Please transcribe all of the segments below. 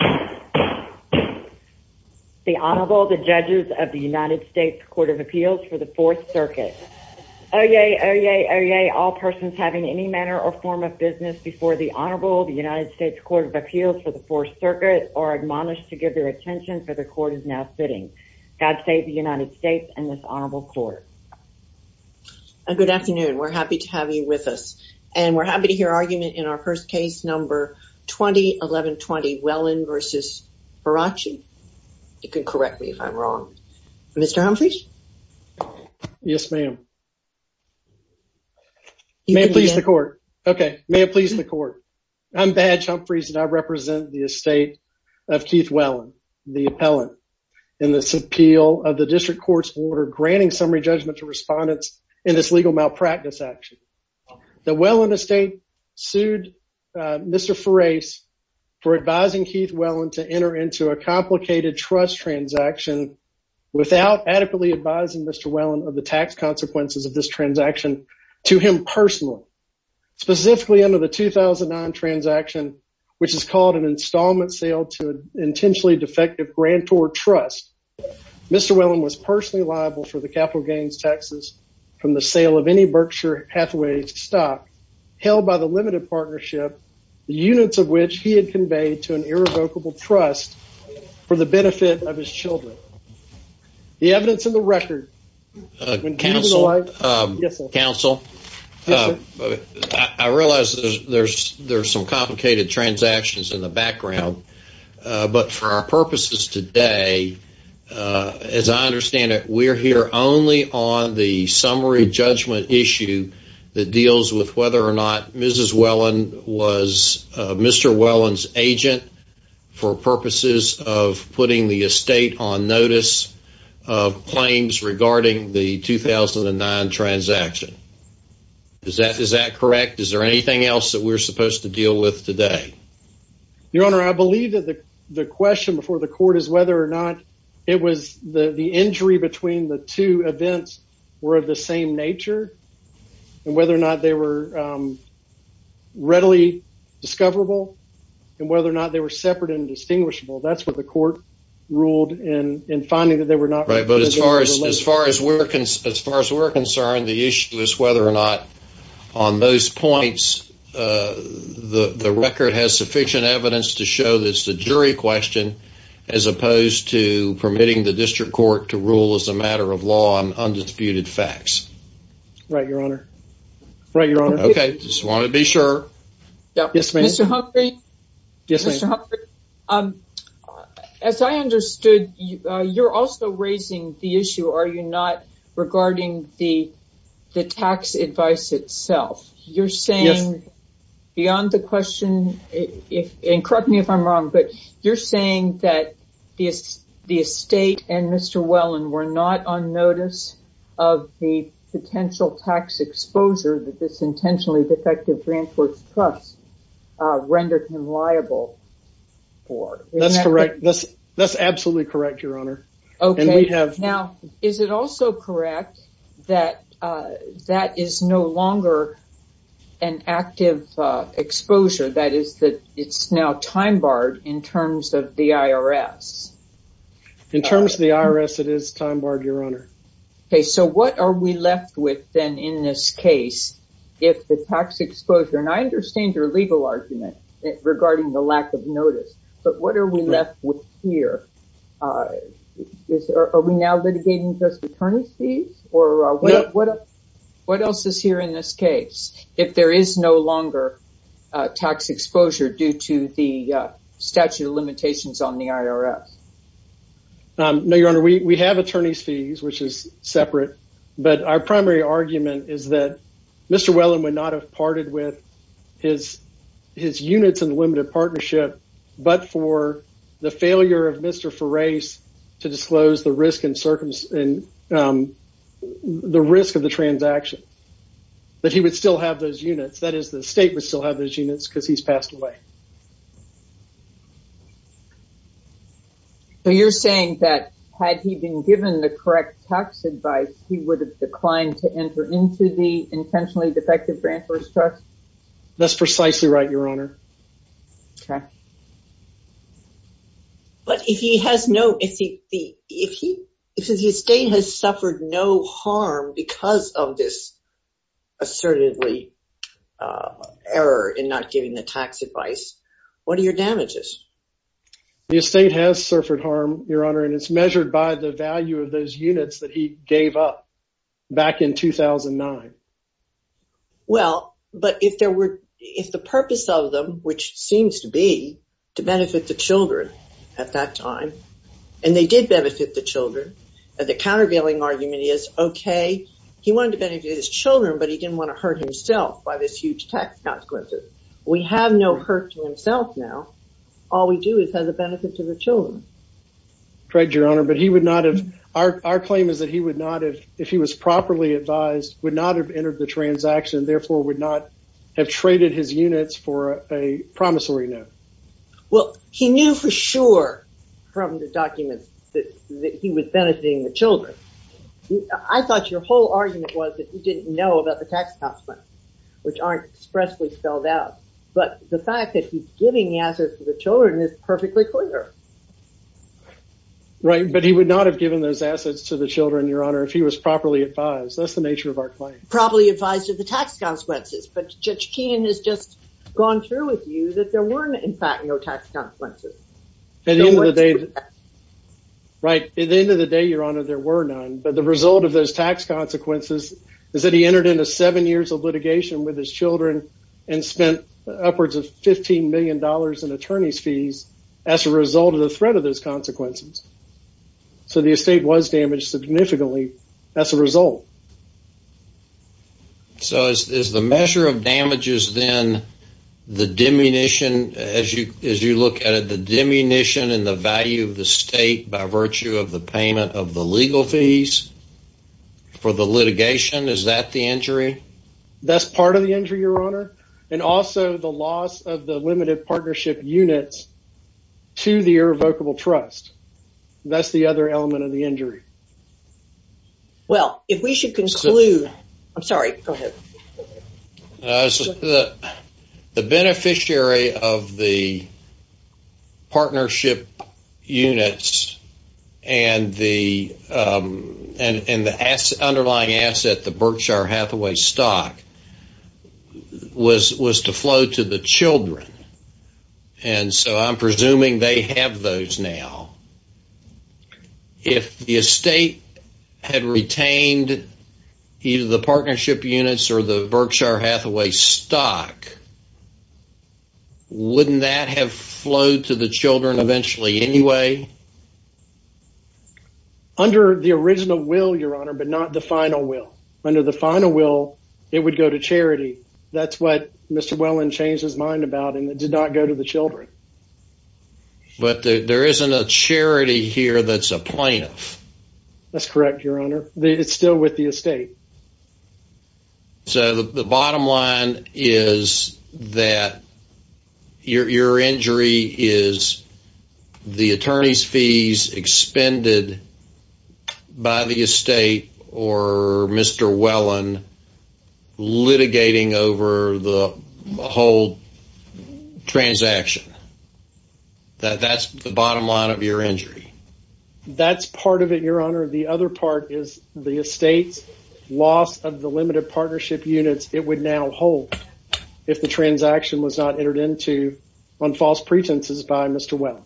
The Honorable, the Judges of the United States Court of Appeals for the Fourth Circuit. Oyez, oyez, oyez, all persons having any manner or form of business before the Honorable, the United States Court of Appeals for the Fourth Circuit, are admonished to give their attention, for the Court is now sitting. God save the United States and this Honorable Court. Good afternoon. We're happy to have you with us. And we're happy to hear argument in our first case number 201120 Wellin v. Farace. You can correct me if I'm wrong. Mr. Humphreys? Yes, ma'am. May it please the Court. Okay. May it please the Court. I'm Badge Humphreys and I represent the estate of Keith Wellin, the appellant, in this appeal of the district court's order granting summary judgment to respondents in this legal malpractice action. The Wellin estate sued Mr. Farace for advising Keith Wellin to enter into a complicated trust transaction without adequately advising Mr. Wellin of the tax consequences of this transaction to him personally, specifically under the 2009 transaction, which is called an installment sale to an intentionally defective grantor trust. Mr. Wellin was personally liable for the capital gains taxes from the sale of any Berkshire Hathaway stock held by the limited partnership, the units of which he had conveyed to an irrevocable trust for the benefit of his children. The evidence in the record. Counsel, I realize there's some complicated transactions in the background, but for our purposes today, as I understand it, we're here only on the summary judgment issue that deals with whether or not Mrs. claims regarding the 2009 transaction. Is that is that correct? Is there anything else that we're supposed to deal with today? Your Honor, I believe that the question before the court is whether or not it was the injury between the two events were of the same nature and whether or not they were readily discoverable and whether or not they were separate and distinguishable. That's what the court ruled in finding that they were not. Right. But as far as as far as we're concerned, as far as we're concerned, the issue is whether or not on those points, the record has sufficient evidence to show this. The jury question, as opposed to permitting the district court to rule as a matter of law on undisputed facts. Right. Your Honor. Right. Your Honor. OK. Just want to be sure. Mr. Humphrey. Yes, Mr. Humphrey. As I understood, you're also raising the issue, are you not, regarding the the tax advice itself? You're saying beyond the question, and correct me if I'm wrong, but you're saying that the estate and Mr. Wellen were not on notice of the potential tax exposure that this intentionally defective Grant Works Trust rendered him liable for. That's correct. That's absolutely correct, Your Honor. OK. Now, is it also correct that that is no longer an active exposure? That is that it's now time barred in terms of the IRS? In terms of the IRS, it is time barred, Your Honor. OK. So what are we left with then in this case? If the tax exposure, and I understand your legal argument regarding the lack of notice, but what are we left with here? Are we now litigating just attorney's fees? Or what else is here in this case? If there is no longer tax exposure due to the statute of limitations on the IRS? No, Your Honor. We have attorney's fees, which is separate. But our primary argument is that Mr. Wellen would not have parted with his units in the limited partnership, but for the failure of Mr. Feras to disclose the risk of the transaction, that he would still have those units. That is, the state would still have those units because he's passed away. So you're saying that had he been given the correct tax advice, he would have declined to enter into the intentionally defective grantors trust? That's precisely right, Your Honor. OK. But if he has no, if the estate has suffered no harm because of this assertively error in not giving the tax advice, what are your damages? The estate has suffered harm, Your Honor, and it's measured by the value of those units that he gave up back in 2009. Well, but if there were, if the purpose of them, which seems to be to benefit the children at that time, and they did benefit the children, the countervailing argument is, OK, he wanted to benefit his children, but he didn't want to hurt himself by this huge tax consequences. We have no hurt to himself now. All we do is has a benefit to the children. Correct, Your Honor. Our claim is that he would not have, if he was properly advised, would not have entered the transaction, therefore would not have traded his units for a promissory note. Well, he knew for sure from the documents that he was benefiting the children. I thought your whole argument was that he didn't know about the tax consequences, which aren't expressly spelled out. But the fact that he's giving the answers to the children is perfectly clear. Right, but he would not have given those assets to the children, Your Honor, if he was properly advised. That's the nature of our claim. Probably advised of the tax consequences. But Judge Keenan has just gone through with you that there were, in fact, no tax consequences. At the end of the day, Your Honor, there were none. But the result of those tax consequences is that he entered into seven years of litigation with his children and spent upwards of $15 million in attorney's fees as a result of the threat of those consequences. So the estate was damaged significantly as a result. So is the measure of damages then the diminution, as you look at it, the diminution in the value of the estate by virtue of the payment of the legal fees for the litigation? Is that the injury? That's part of the injury, Your Honor. And also the loss of the limited partnership units to the irrevocable trust. That's the other element of the injury. Well, if we should conclude, I'm sorry, go ahead. The beneficiary of the partnership units and the underlying asset, the Berkshire Hathaway stock, was to flow to the children. And so I'm presuming they have those now. If the estate had retained either the partnership units or the Berkshire Hathaway stock, wouldn't that have flowed to the children eventually anyway? Under the original will, Your Honor, but not the final will. Under the final will, it would go to charity. That's what Mr. Welland changed his mind about, and it did not go to the children. But there isn't a charity here that's a plaintiff. That's correct, Your Honor. It's still with the estate. So the bottom line is that your injury is the attorney's fees expended by the estate or Mr. Welland litigating over the whole transaction. That's the bottom line of your injury. That's part of it, Your Honor. The other part is the estate's loss of the limited partnership units it would now hold if the transaction was not entered into on false pretenses by Mr. Welland.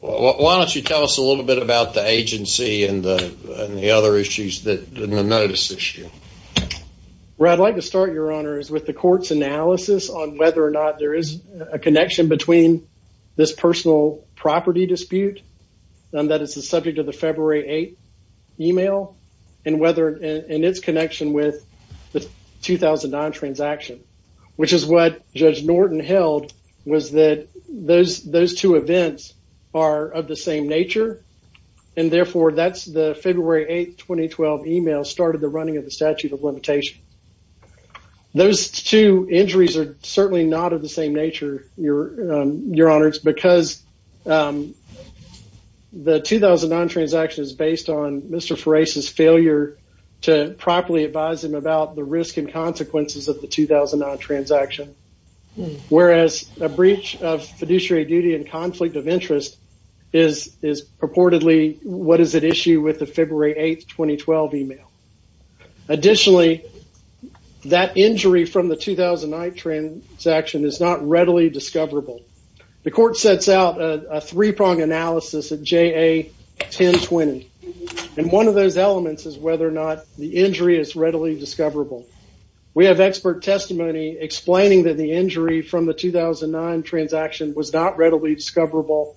Why don't you tell us a little bit about the agency and the other issues, the notice issue? Where I'd like to start, Your Honor, is with the court's analysis on whether or not there is a connection between this personal property dispute, and that it's the subject of the February 8th email, and its connection with the 2009 transaction, which is what Judge Norton held was that those two events are of the same nature, and therefore that's the February 8th, 2012 email started the running of the statute of limitation. Those two injuries are certainly not of the same nature, Your Honor, because the 2009 transaction is based on Mr. Ferase's failure to properly advise him about the risk and consequences of the 2009 transaction, whereas a breach of fiduciary duty and conflict of interest is purportedly what is at issue with the February 8th, 2012 email. Additionally, that injury from the 2009 transaction is not readily discoverable. The court sets out a three-prong analysis at JA 1020, and one of those elements is whether or not the injury is readily discoverable. We have expert testimony explaining that the injury from the 2009 transaction was not readily discoverable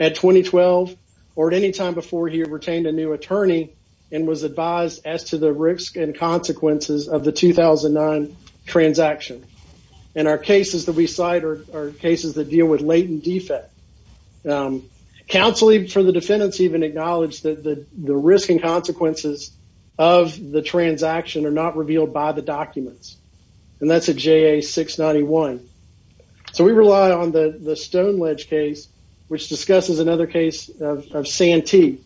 at 2012, or at any time before he retained a new attorney and was advised as to the risk and consequences of the 2009 transaction, and our cases that we cite are cases that deal with latent defect. Counsel for the defendants even acknowledged that the risk and consequences of the transaction are not revealed by the documents, and that's at JA 691. We rely on the Stoneledge case, which discusses another case of Santee,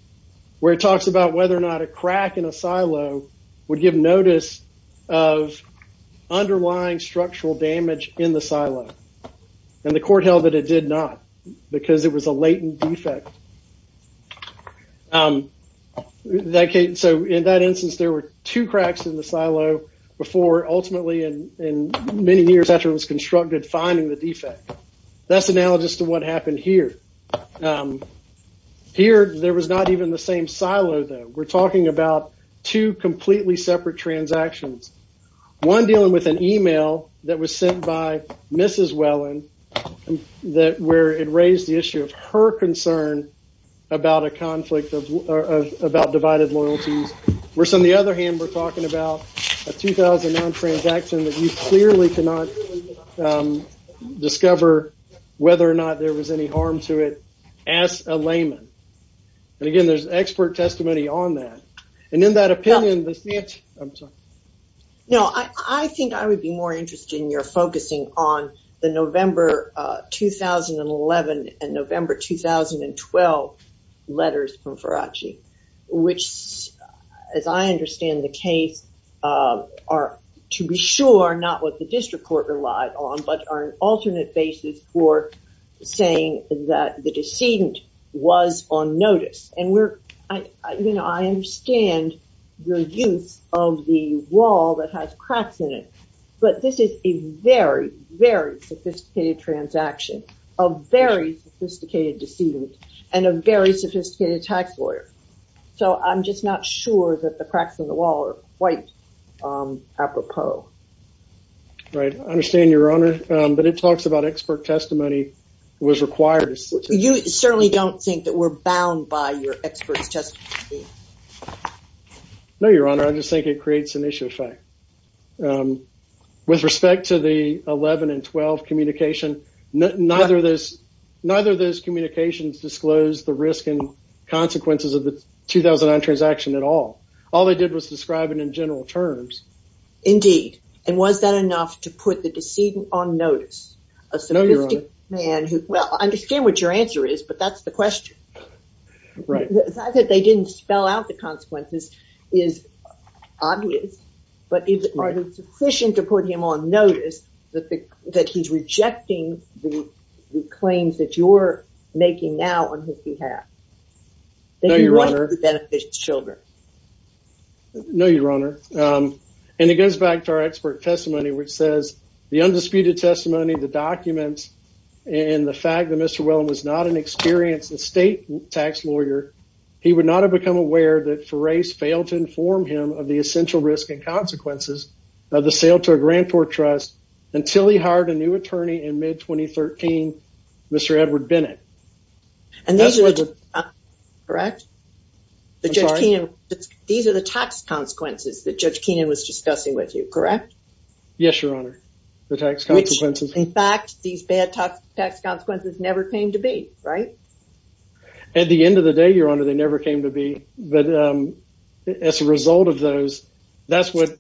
where it talks about whether or not a crack in a silo would give notice of underlying structural damage in the silo, and the court held that it did not because it was a latent defect. In that instance, there were two cracks in the silo before ultimately, and many years after it was constructed, finding the defect. That's analogous to what happened here. Here, there was not even the same silo, though. We're talking about two completely separate transactions, one dealing with an email that was sent by Mrs. Welland where it raised the issue of her concern about a conflict of divided loyalties, where on the other hand, we're talking about a 2009 transaction that you clearly cannot discover whether or not there was any harm to it as a layman. Again, there's expert testimony on that. In that opinion, the Santee... I'm sorry. No, I think I would be more interested in your focusing on the November 2011 and November 2012 letters from Faraci, which, as I understand the case, are to be sure not what the district court relied on, but are an alternate basis for saying that the decedent was on notice. I understand your use of the wall that has cracks in it, but this is a very, very sophisticated transaction, a very sophisticated decedent, and a very sophisticated tax lawyer. I'm just not sure that the cracks in the wall are quite apropos. Right. I understand, Your Honor, but it talks about expert testimony was required. You certainly don't think that we're bound by your expert testimony? No, Your Honor. I just think it creates an issue of fact. With respect to the 11 and 12 communication, neither of those communications disclosed the risk and consequences of the 2009 transaction at all. All they did was describe it in general terms. Indeed, and was that enough to put the decedent on notice? No, Your Honor. Well, I understand what your answer is, but that's the question. Right. The fact that they didn't spell out the consequences is obvious, but is it sufficient to put him on notice that he's rejecting the claims that you're making now on his behalf? No, Your Honor. That he wants to benefit his children? No, Your Honor. And it goes back to our expert testimony, which says the undisputed testimony, the documents, and the fact that Mr. Whelan was not an experienced estate tax lawyer, he would not have become aware that Ferase failed to inform him of the essential risk and consequences of the sale to a grantor trust until he hired a new attorney in mid-2013, Mr. Edward Bennett. And these are the consequences, correct? I'm sorry? These are the tax consequences that Judge Keenan was discussing with you, correct? Yes, Your Honor, the tax consequences. Which, in fact, these bad tax consequences never came to be, right? At the end of the day, Your Honor, they never came to be. But as a result of those, that's what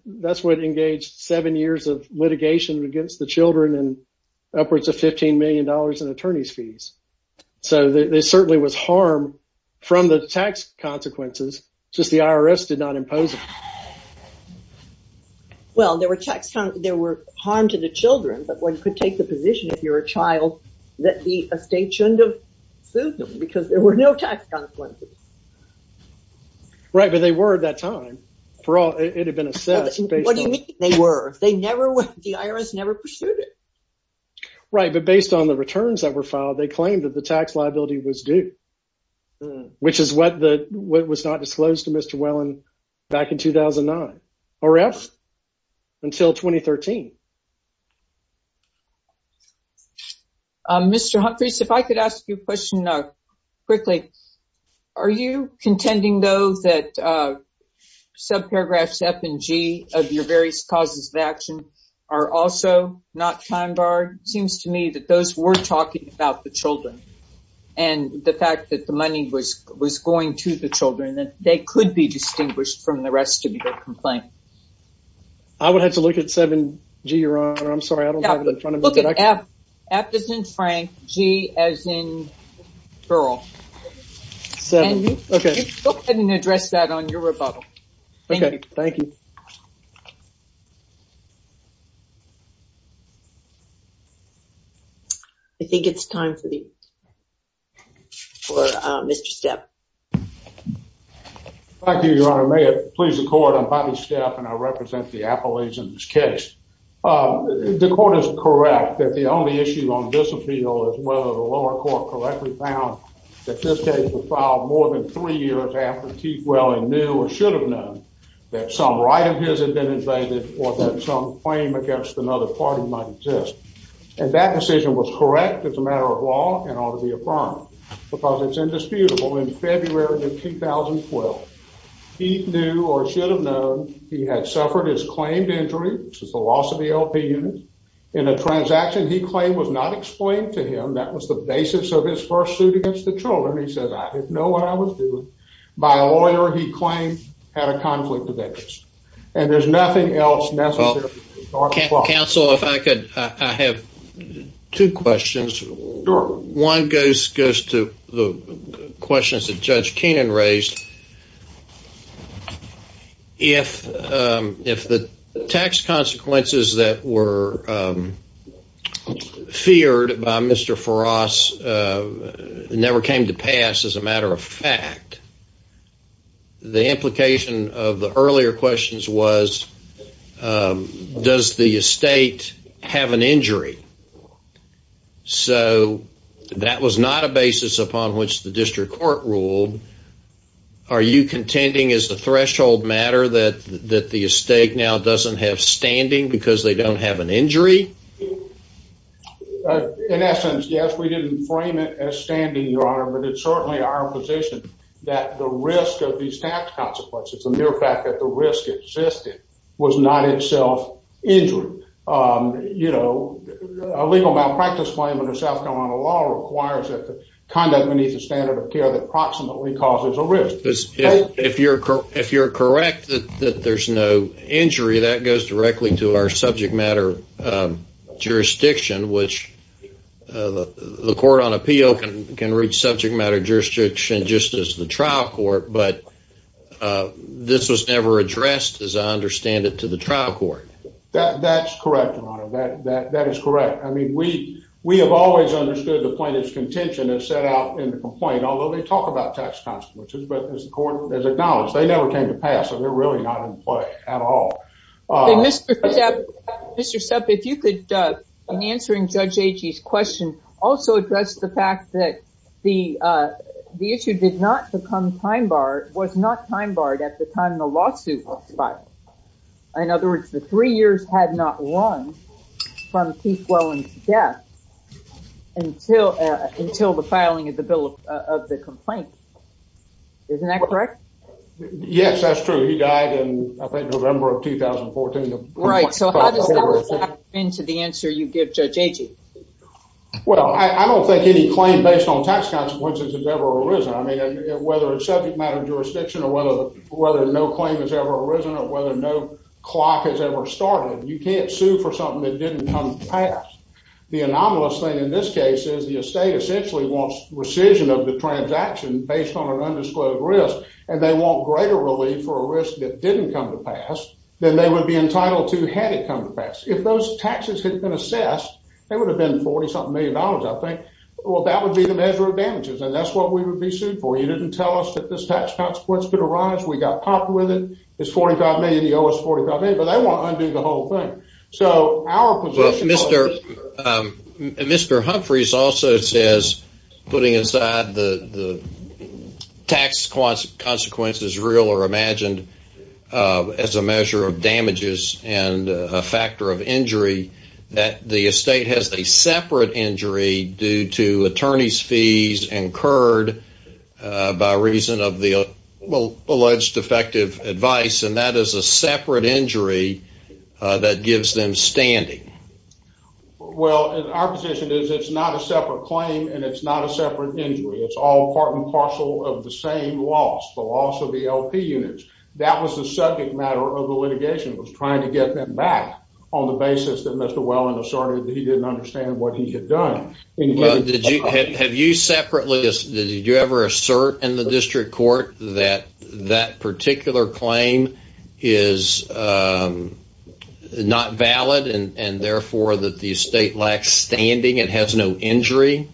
engaged seven years of litigation against the children and upwards of $15 million in attorney's fees. So there certainly was harm from the tax consequences, just the IRS did not impose it. Well, there were harm to the children, but one could take the position, if you're a child, that the estate shouldn't have sued them because there were no tax consequences. Right, but they were at that time. It had been assessed. What do you mean, they were? The IRS never pursued it. Right, but based on the returns that were filed, they claimed that the tax liability was due, which is what was not disclosed to Mr. Whelan back in 2009, or if until 2013. Mr. Humphreys, if I could ask you a question quickly. Are you contending, though, that subparagraphs F and G of your various causes of action are also not time barred? It seems to me that those were talking about the children and the fact that the money was going to the children, that they could be distinguished from the rest of your complaint. I would have to look at 7G, Your Honor. I'm sorry, I don't have it in front of me. F is in Frank, G as in Pearl. Go ahead and address that on your rebuttal. Okay, thank you. I think it's time for Mr. Stepp. Thank you, Your Honor. May it please the Court, I'm Bobby Stepp and I represent the Appalachians case. The Court is correct that the only issue on this appeal is whether the lower court correctly found that this case was filed more than three years after Keith Whelan knew or should have known that some right of his had been invaded or that some claim against another party might exist. And that decision was correct as a matter of law and ought to be affirmed because it's indisputable in February of 2012, Keith knew or should have known he had suffered his claimed injury, which is the loss of the LP unit, in a transaction he claimed was not explained to him. That was the basis of his first suit against the children. He said, I didn't know what I was doing. By a lawyer he claimed had a conflict of interest. And there's nothing else necessary. Counsel, if I could, I have two questions. One goes to the questions that Judge Keenan raised. If the tax consequences that were feared by Mr. Farras never came to pass as a matter of fact, the implication of the earlier questions was, does the estate have an injury? So that was not a basis upon which the district court ruled. Are you contending as a threshold matter that the estate now doesn't have standing because they don't have an injury? In essence, yes, we didn't frame it as standing, Your Honor, but it's certainly our position that the risk of these tax consequences, the mere fact that the risk existed, was not itself injury. A legal malpractice claim under South Carolina law requires that the conduct beneath the standard of care that proximately causes a risk. If you're correct that there's no injury, that goes directly to our subject matter jurisdiction, which the court on appeal can reach subject matter jurisdiction just as the trial court, but this was never addressed, as I understand it, to the trial court. That's correct, Your Honor. That is correct. I mean, we have always understood the plaintiff's contention as set out in the complaint, although they talk about tax consequences, but as the court has acknowledged, they never came to pass, so they're really not in play at all. Mr. Sepp, if you could, in answering Judge Agee's question, also address the fact that the issue did not become time-barred, was not time-barred at the time the lawsuit was filed. In other words, the three years had not run from Keith Whelan's death until the filing of the bill of the complaint. Isn't that correct? Yes, that's true. He died in, I think, November of 2014. Right, so how does that fit into the answer you give Judge Agee? Well, I don't think any claim based on tax consequences has ever arisen. I mean, whether it's subject matter jurisdiction or whether no claim has ever arisen or whether no clock has ever started, you can't sue for something that didn't come to pass. The anomalous thing in this case is the estate essentially wants rescission of the transaction based on an undisclosed risk, and they want greater relief for a risk that didn't come to pass than they would be entitled to had it come to pass. If those taxes had been assessed, they would have been $40-something million, I think. Well, that would be the measure of damages, and that's what we would be sued for. You didn't tell us that this tax consequence could arise. We got popped with it. It's $45 million. But they want to undo the whole thing. Mr. Humphreys also says, putting aside the tax consequences, real or imagined, as a measure of damages and a factor of injury, that the estate has a separate injury due to attorney's fees incurred by reason of the alleged defective advice, and that is a separate injury that gives them standing. Well, our position is it's not a separate claim and it's not a separate injury. It's all part and parcel of the same loss, the loss of the LP units. That was the subject matter of the litigation, was trying to get them back on the basis that Mr. Welland asserted that he didn't understand what he had done. Have you separately, did you ever assert in the district court that that particular claim is not valid and therefore that the estate lacks standing and has no injury?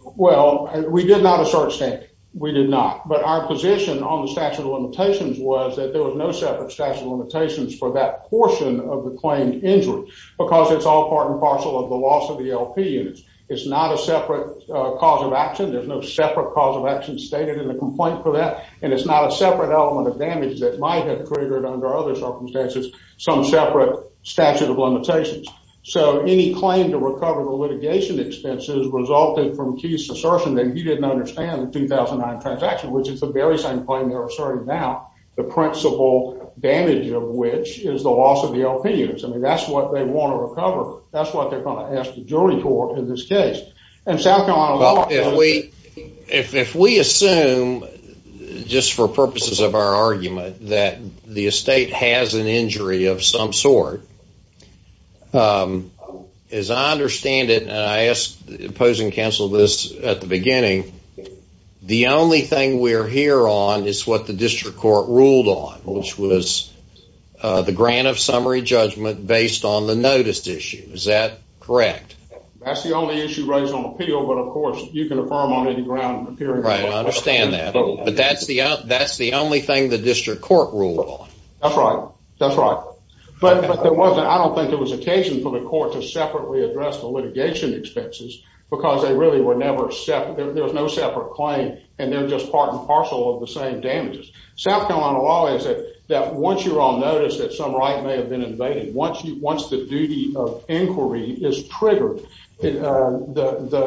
Well, we did not assert standing. We did not. But our position on the statute of limitations was that there was no separate statute of limitations for that portion of the claimed injury because it's all part and parcel of the loss of the LP units. It's not a separate cause of action. There's no separate cause of action stated in the complaint for that, and it's not a separate element of damage that might have triggered under other circumstances some separate statute of limitations. So any claim to recover the litigation expenses resulted from Keith's assertion that he didn't understand the 2009 transaction, which is the very same claim they're asserting now, the principal damage of which is the loss of the LP units. I mean, that's what they want to recover. That's what they're going to ask the jury court in this case. Well, if we assume, just for purposes of our argument, that the estate has an injury of some sort, as I understand it, and I posed and counseled this at the beginning, the only thing we're here on is what the district court ruled on, which was the grant of summary judgment based on the notice issue. Is that correct? That's the only issue raised on appeal, but, of course, you can affirm on any ground in the hearing. Right, I understand that. But that's the only thing the district court ruled on. That's right. That's right. But I don't think there was occasion for the court to separately address the litigation expenses because they really were never separate. There was no separate claim, and they're just part and parcel of the same damages. South Carolina law is that once you're on notice that some right may have been invaded, once the duty of inquiry is triggered, the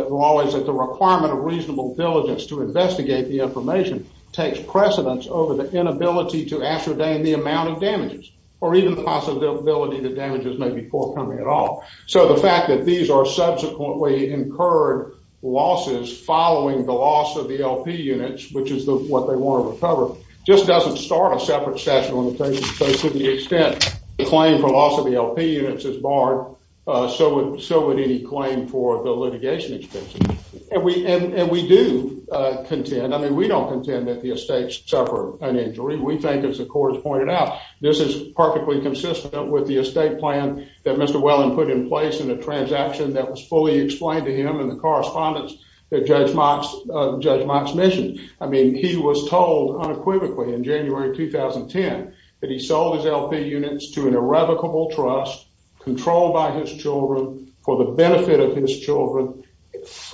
law is that the requirement of reasonable diligence to investigate the information takes precedence over the inability to ascertain the amount of damages or even the possibility that damages may be forthcoming at all. So the fact that these are subsequently incurred losses following the loss of the LP units, which is what they want to recover, just doesn't start a separate session on the case to the extent that the claim for loss of the LP units is barred, so would any claim for the litigation expenses. And we do contend. I mean, we don't contend that the estates suffer an injury. We think, as the court has pointed out, this is perfectly consistent with the estate plan that Mr. Welland put in place in a transaction that was fully explained to him in the correspondence that Judge Mott's mission. I mean, he was told unequivocally in January 2010 that he sold his LP units to an irrevocable trust controlled by his children for the benefit of his children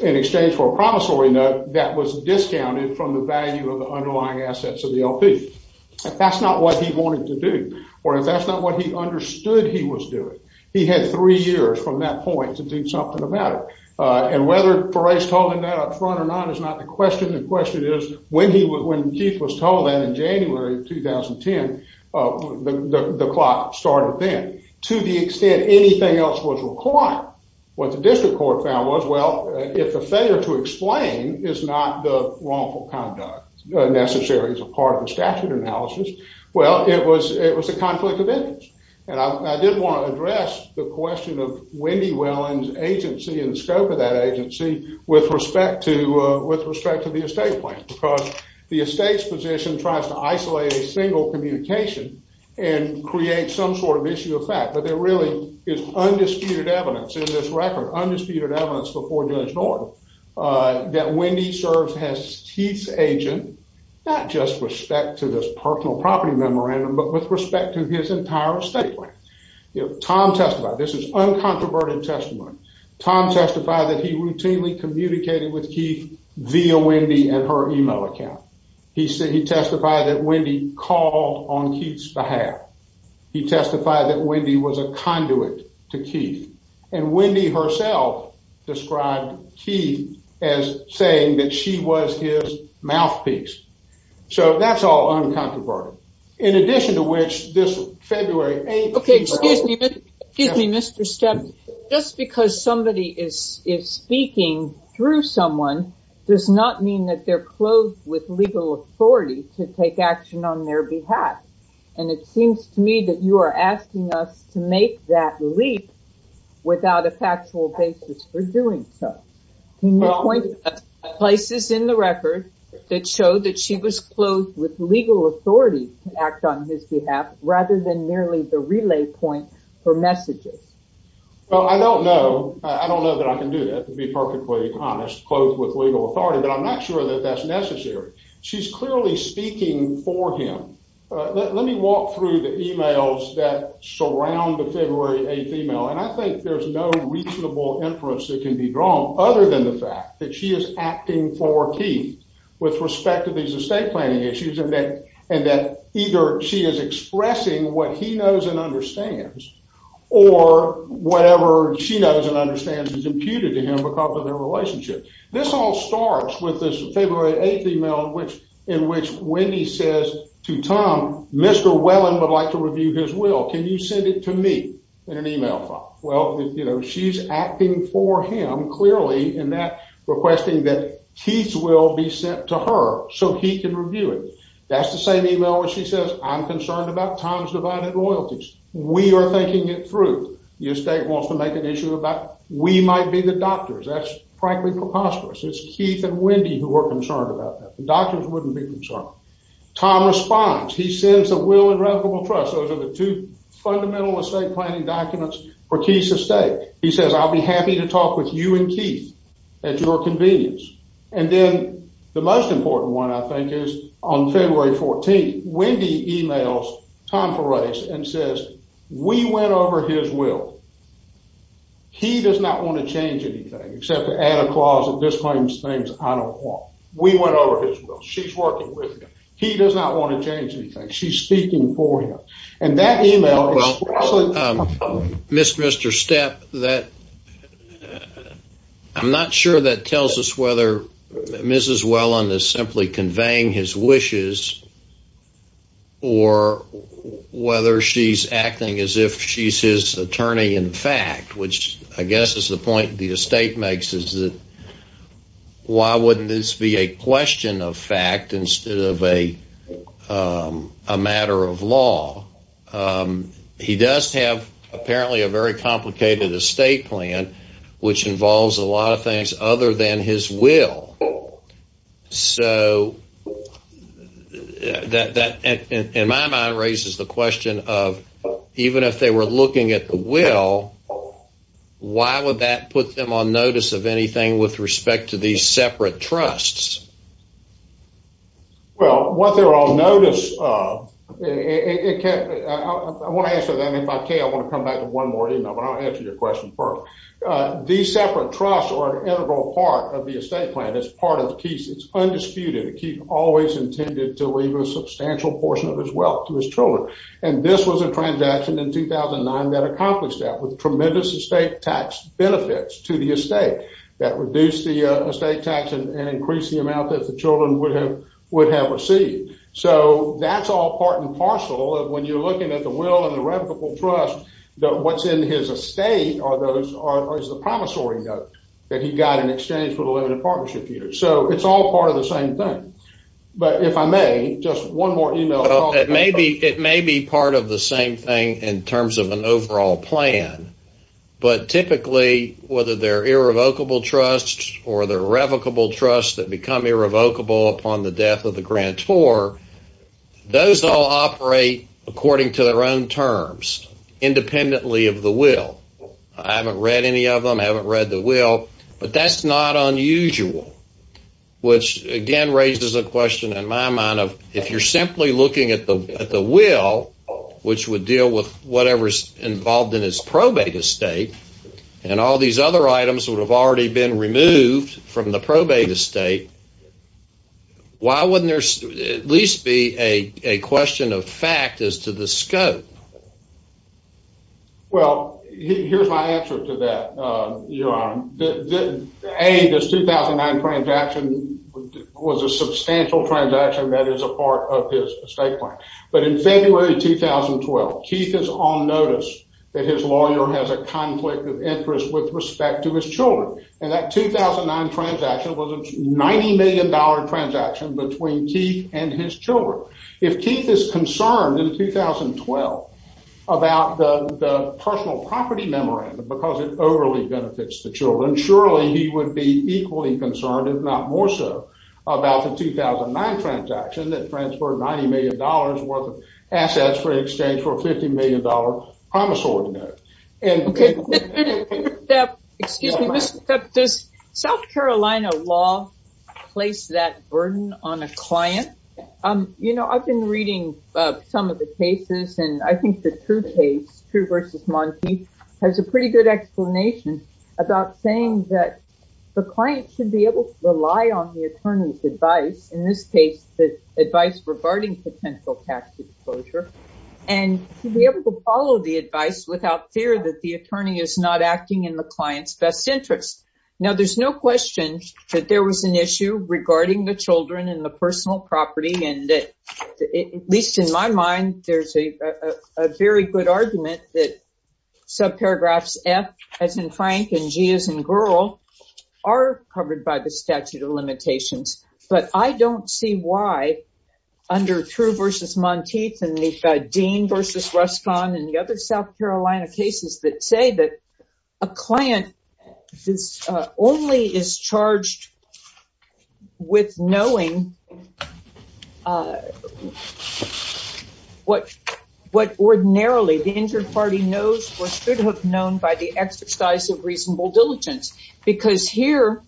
in exchange for a promissory note that was discounted from the value of the underlying assets of the LP. If that's not what he wanted to do, or if that's not what he understood he was doing, he had three years from that point to do something about it. And whether Ferre's told him that up front or not is not the question. The question is, when Keith was told that in January 2010, the clock started then. To the extent anything else was required, what the district court found was, well, if the failure to explain is not the wrongful conduct necessary as a part of the statute analysis, well, it was a conflict of interest. And I did want to address the question of Wendy Welland's agency and the scope of that agency with respect to the estate plan, because the estates position tries to isolate a single communication and create some sort of issue of fact. But there really is undisputed evidence in this record, undisputed evidence before Judge Norton, that Wendy serves as Keith's agent, not just with respect to this personal property memorandum, but with respect to his entire estate plan. Tom testified. This is uncontroverted testimony. Tom testified that he routinely communicated with Keith via Wendy and her email account. He testified that Wendy called on Keith's behalf. He testified that Wendy was a conduit to Keith. And Wendy herself described Keith as saying that she was his mouthpiece. So that's all uncontroverted. In addition to which, this February 8th... Okay, excuse me. Excuse me, Mr. Stem. Just because somebody is speaking through someone does not mean that they're clothed with legal authority to take action on their behalf. And it seems to me that you are asking us to make that leap without a factual basis for doing so. Can you point to places in the record that show that she was clothed with legal authority to act on his behalf, rather than merely the relay point for messages? Well, I don't know. I don't know that I can do that, to be perfectly honest. Clothed with legal authority, but I'm not sure that that's necessary. She's clearly speaking for him. Let me walk through the emails that surround the February 8th email, and I think there's no reasonable inference that can be drawn other than the fact that she is acting for Keith with respect to these estate planning issues and that either she is expressing what he knows and understands or whatever she knows and understands is imputed to him because of their relationship. This all starts with this February 8th email in which Wendy says to Tom, Mr. Wellen would like to review his will. Can you send it to me in an email file? Well, she's acting for him, clearly, in that requesting that Keith's will be sent to her so he can review it. That's the same email where she says, I'm concerned about Tom's divided loyalties. We are thinking it through. The estate wants to make an issue about we might be the doctors. That's frankly preposterous. It's Keith and Wendy who are concerned about that. The doctors wouldn't be concerned. Tom responds. He sends the will and revocable trust. Those are the two fundamental estate planning documents for Keith's estate. He says, I'll be happy to talk with you and Keith at your convenience. And then the most important one, I think, is on February 14th, Wendy emails Tom Ferres and says, we went over his will. He does not want to change anything except to add a clause that disclaims things I don't want. We went over his will. She's working with him. He does not want to change anything. She's speaking for him. And that email is- Well, Mr. Stepp, I'm not sure that tells us whether Mrs. Welland is simply conveying his wishes or whether she's acting as if she's his attorney in fact, which I guess is the point the estate makes, is that why wouldn't this be a question of fact instead of a matter of law? He does have, apparently, a very complicated estate plan, which involves a lot of things other than his will. So that, in my mind, raises the question of, even if they were looking at the will, why would that put them on notice of anything with respect to these separate trusts? Well, what they're on notice of- I want to answer that, and if I can, I want to come back to one more email, but I'll answer your question first. These separate trusts are an integral part of the estate plan. It's part of the keys. The key's always intended to leave a substantial portion of his wealth to his children. And this was a transaction in 2009 that accomplished that with tremendous estate tax benefits to the estate that reduced the estate tax and increased the amount that the children would have received. So that's all part and parcel of when you're looking at the will and the reputable trust, that what's in his estate is the promissory note that he got in exchange for the limited partnership years. So it's all part of the same thing. But if I may, just one more email- Well, it may be part of the same thing in terms of an overall plan, but typically, whether they're irrevocable trusts or they're revocable trusts that become irrevocable upon the death of the grantor, those all operate according to their own terms, independently of the will. I haven't read any of them. I haven't read the will. But that's not unusual, which, again, raises a question in my mind of if you're simply looking at the will, which would deal with whatever's involved in his probate estate, and all these other items would have already been removed from the probate estate, why wouldn't there at least be a question of fact as to the scope? Well, here's my answer to that, Your Honor. A, this 2009 transaction was a substantial transaction that is a part of his estate plan. But in February 2012, Keith is on notice that his lawyer has a conflict of interest with respect to his children. And that 2009 transaction was a $90 million transaction between Keith and his children. If Keith is concerned in 2012 about the personal property memorandum because it overly benefits the children, surely he would be equally concerned, if not more so, about the 2009 transaction that transferred $90 million worth of assets for exchange for a $50 million promise ordinance. Excuse me, does South Carolina law place that burden on a client? You know, I've been reading some of the cases, and I think the True case, True v. Monteith, has a pretty good explanation about saying that the client should be able to rely on the attorney's advice, in this case, the advice regarding potential tax disclosure, and be able to follow the advice without fear that the attorney is not acting in the client's best interest. Now, there's no question that there was an issue regarding the children and the personal property, and at least in my mind, there's a very good argument that subparagraphs F as in Frank and G as in Girl are covered by the statute of limitations, but I don't see why, under True v. Monteith, and the Dean v. Ruscon, and the other South Carolina cases that say that a client only is charged with knowing what ordinarily the injured party knows or should have known by the exercise of reasonable diligence. Because here,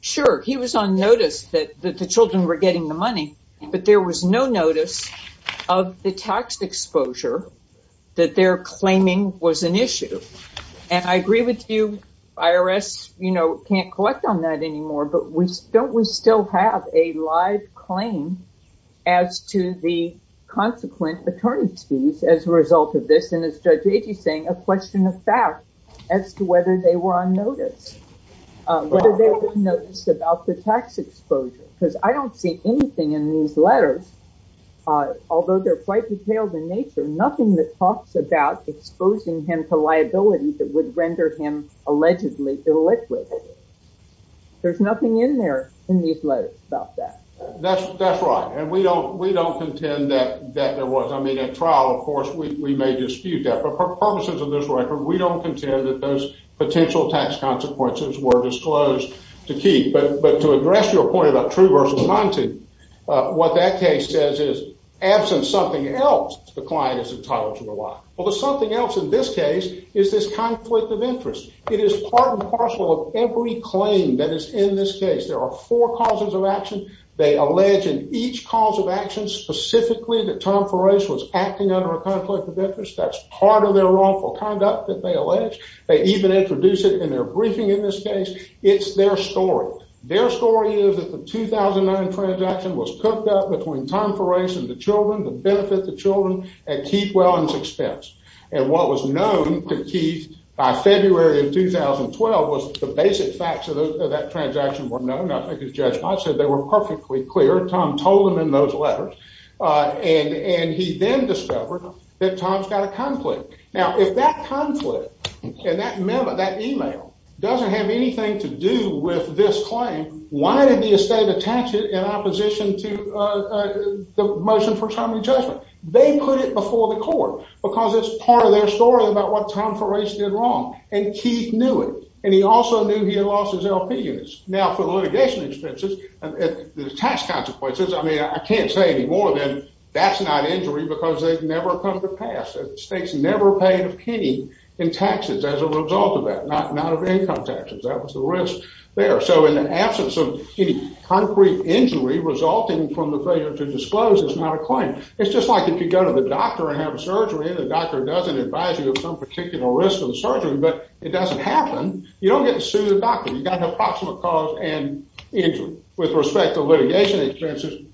sure, he was on notice that the children were getting the money, but there was no notice of the tax exposure that they're claiming was an issue. And I agree with you, IRS can't collect on that anymore, but don't we still have a live claim as to the consequent attorney's fees as a result of this, and as Judge Agee is saying, a question of fact as to whether they were on notice, whether they were on notice about the tax exposure, because I don't see anything in these letters, although they're quite detailed in nature, nothing that talks about exposing him to liability that would render him allegedly illiquid. There's nothing in there, in these letters, about that. That's right, and we don't contend that there was. I mean, at trial, of course, we may dispute that, but purposes of this record, we don't contend that those potential tax consequences were disclosed to keep. But to address your point about true versus non-true, what that case says is, absent something else, the client is entitled to rely. Well, there's something else in this case is this conflict of interest. It is part and parcel of every claim that is in this case. There are four causes of action. They allege in each cause of action specifically that Tom Ferris was acting under a conflict of interest. That's part of their wrongful conduct, that they allege. They even introduce it in their briefing in this case. It's their story. Their story is that the 2009 transaction was cooked up between Tom Ferris and the children, the benefit to children, at Keith Welland's expense. And what was known to Keith by February of 2012 was the basic facts of that transaction were known. I think as Judge Mott said, they were perfectly clear. Tom told them in those letters, and he then discovered that Tom's got a conflict. Now, if that conflict and that memo, that email, doesn't have anything to do with this claim, why did the estate attach it in opposition to the motion for term of judgment? They put it before the court because it's part of their story about what Tom Ferris did wrong. And Keith knew it. And he also knew he had lost his LP units. Now, for the litigation expenses, the tax consequences, I mean, I can't say any more than that's not injury because they've never come to pass. The state's never paid a penny in taxes as a result of that, not of income taxes. That was the risk there. So in the absence of any concrete injury resulting from the failure to disclose is not a claim. It's just like if you go to the doctor and have a surgery, and the doctor doesn't advise you of some particular risk of the surgery, but it doesn't happen, you don't get to sue the doctor. You've got an approximate cause and injury. With respect to litigation expenses,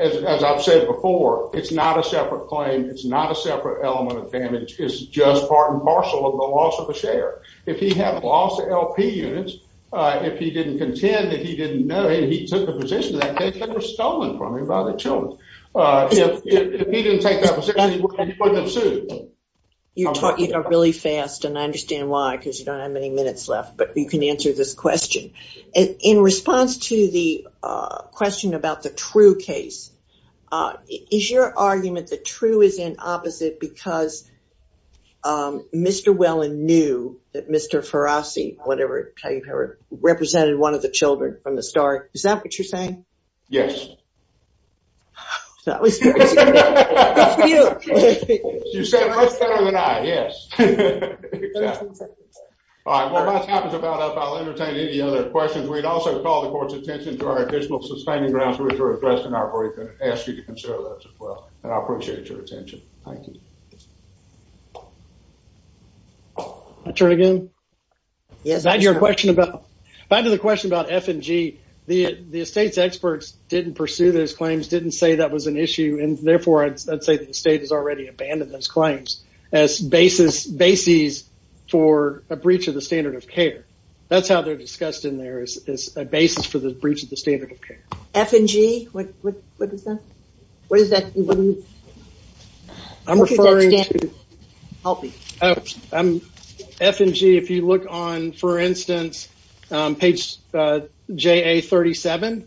as I've said before, it's not a separate claim. It's not a separate element of damage. It's just part and parcel of the loss of a share. If he had lost LP units, if he didn't contend that he didn't know, and he took the position of that case, they were stolen from him by the children. If he didn't take that position, he wouldn't have sued. You're talking really fast, and I understand why because you don't have many minutes left, but you can answer this question. In response to the question about the True case, is your argument that True is in opposite because Mr. Wellen knew that Mr. Farassi, whatever, represented one of the children from the start? Is that what you're saying? Yes. That was good. Good for you. You said it much better than I, yes. Exactly. All right. While my time is about up, I'll entertain any other questions. We'd also call the court's attention to our additional sustaining grounds and ask you to consider those as well, and I appreciate your attention. Thank you. Can I turn again? Yes. Back to the question about F&G, the estate's experts didn't pursue those claims, didn't say that was an issue, and therefore, I'd say that the state has already abandoned those claims as bases for a breach of the standard of care. That's how they're discussed in there, is a basis for the breach of the standard of care. F&G, what is that? I'm referring to F&G. If you look on, for instance, page JA-37,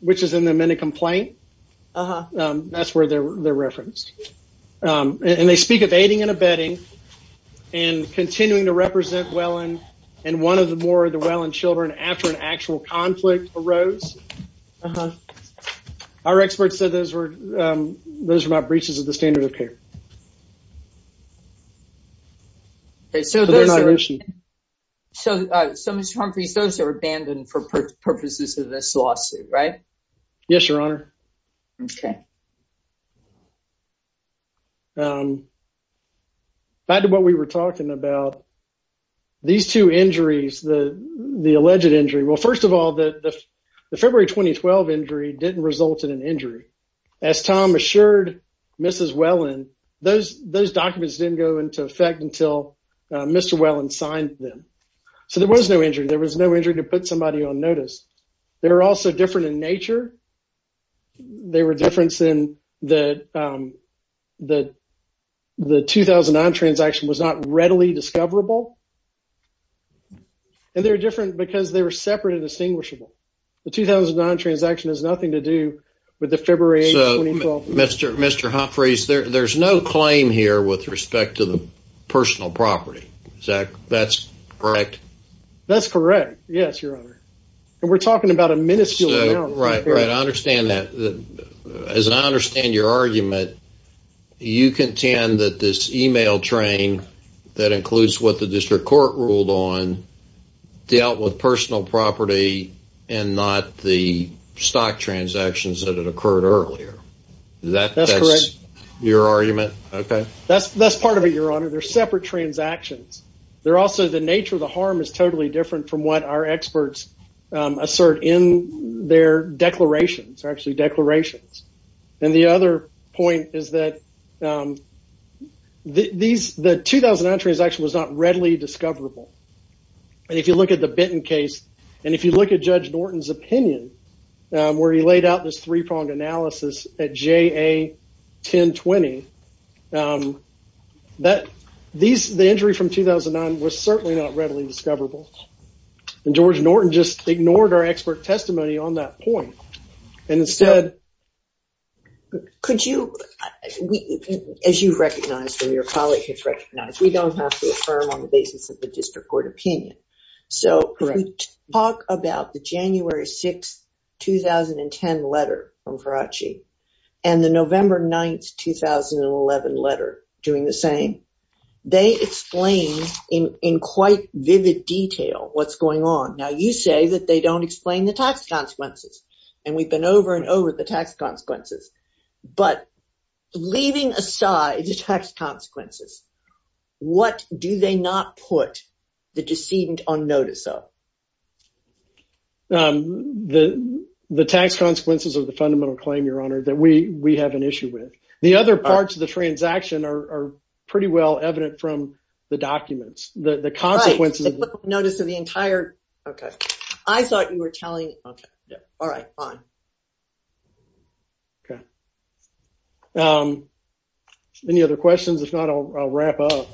which is in the amended complaint, that's where they're referenced, and they speak of aiding and abetting and continuing to represent Welland and one or more of the Welland children after an actual conflict arose. Our experts said those were breaches of the standard of care. They're not an issue. So, Mr. Humphreys, those are abandoned for purposes of this lawsuit, right? Yes, Your Honor. Okay. Back to what we were talking about, these two injuries, the alleged injury. Well, first of all, the February 2012 injury didn't result in an injury. As Tom assured Mrs. Welland, those documents didn't go into effect until Mr. Welland signed them. So, there was no injury. There was no injury to put somebody on notice. They were also different in nature. They were different in that the 2009 transaction was not readily discoverable, and they were different because they were separate and distinguishable. The 2009 transaction has nothing to do with the February 2012. So, Mr. Humphreys, there's no claim here with respect to the personal property. Is that correct? That's correct. Yes, Your Honor. And we're talking about a minuscule amount. Right, right. I understand that. As I understand your argument, you contend that this e-mail train that includes what the district court ruled on dealt with personal property and not the stock transactions that had occurred earlier. That's correct. Is that your argument? Okay. That's part of it, Your Honor. They're separate transactions. They're also the nature of the harm is totally different from what our experts assert in their declarations, actually declarations. And the other point is that the 2009 transaction was not readily discoverable. And if you look at the Benton case and if you look at Judge Norton's opinion where he laid out this three-pronged analysis at JA 1020, the injury from 2009 was certainly not readily discoverable. And George Norton just ignored our expert testimony on that point. And instead... Could you... As you've recognized and your colleague has recognized, we don't have to affirm on the basis of the district court opinion. So, if we talk about the January 6th, 2010 letter from Faraci and the November 9th, 2011 letter doing the same, they explain in quite vivid detail what's going on. Now, you say that they don't explain the tax consequences. And we've been over and over the tax consequences. But leaving aside the tax consequences, what do they not put the decedent on notice of? The tax consequences of the fundamental claim, Your Honor, that we have an issue with. The other parts of the transaction are pretty well evident from the documents. The consequences... Right, they put on notice of the entire... Okay. I thought you were telling... Okay, yeah. All right, fine. Okay. Any other questions? If not, I'll wrap up.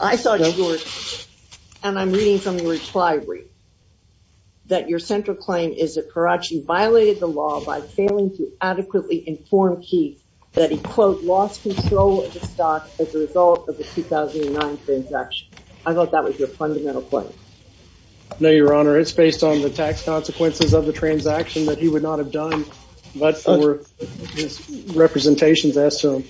I saw George, and I'm reading from the reply read, that your central claim is that Faraci violated the law by failing to adequately inform Keith that he, quote, lost control of the stock as a result of the 2009 transaction. I thought that was your fundamental claim. No, Your Honor. It's based on the tax consequences of the transaction that he would not have done, but for his representations as to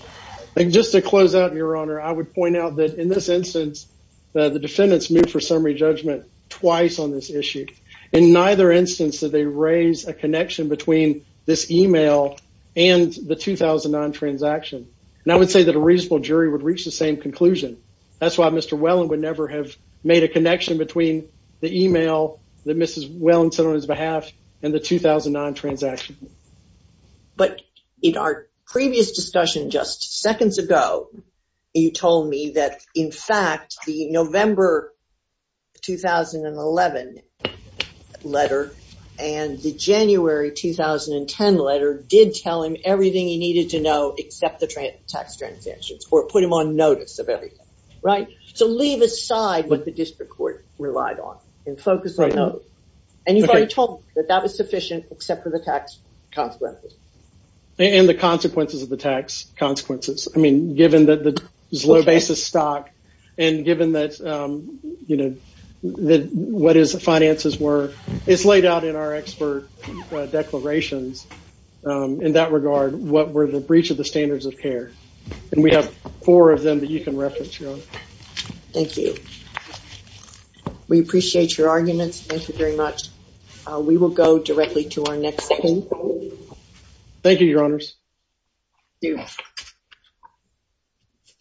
them. Just to close out, Your Honor, I would point out that in this instance, the defendants moved for summary judgment twice on this issue. In neither instance did they raise a connection between this email and the 2009 transaction. And I would say that a reasonable jury would reach the same conclusion. That's why Mr. Welland would never have made a connection between the email that Mrs. Welland sent on his behalf and the 2009 transaction. But in our previous discussion just seconds ago, you told me that, in fact, the November 2011 letter and the January 2010 letter did tell him everything he needed to know except the tax transactions or put him on notice of everything, right? So leave aside what the district court relied on and focus on those. And you've already told me that that was sufficient except for the tax consequences. And the consequences of the tax consequences. I mean, given that there's low basis stock and given that, you know, what his finances were, it's laid out in our expert declarations in that regard, what were the breach of the standards of care. And we have four of them that you can reference, Your Honor. Thank you. We appreciate your arguments. Thank you very much. We will go directly to our next panel. Thank you, Your Honors. Thank you.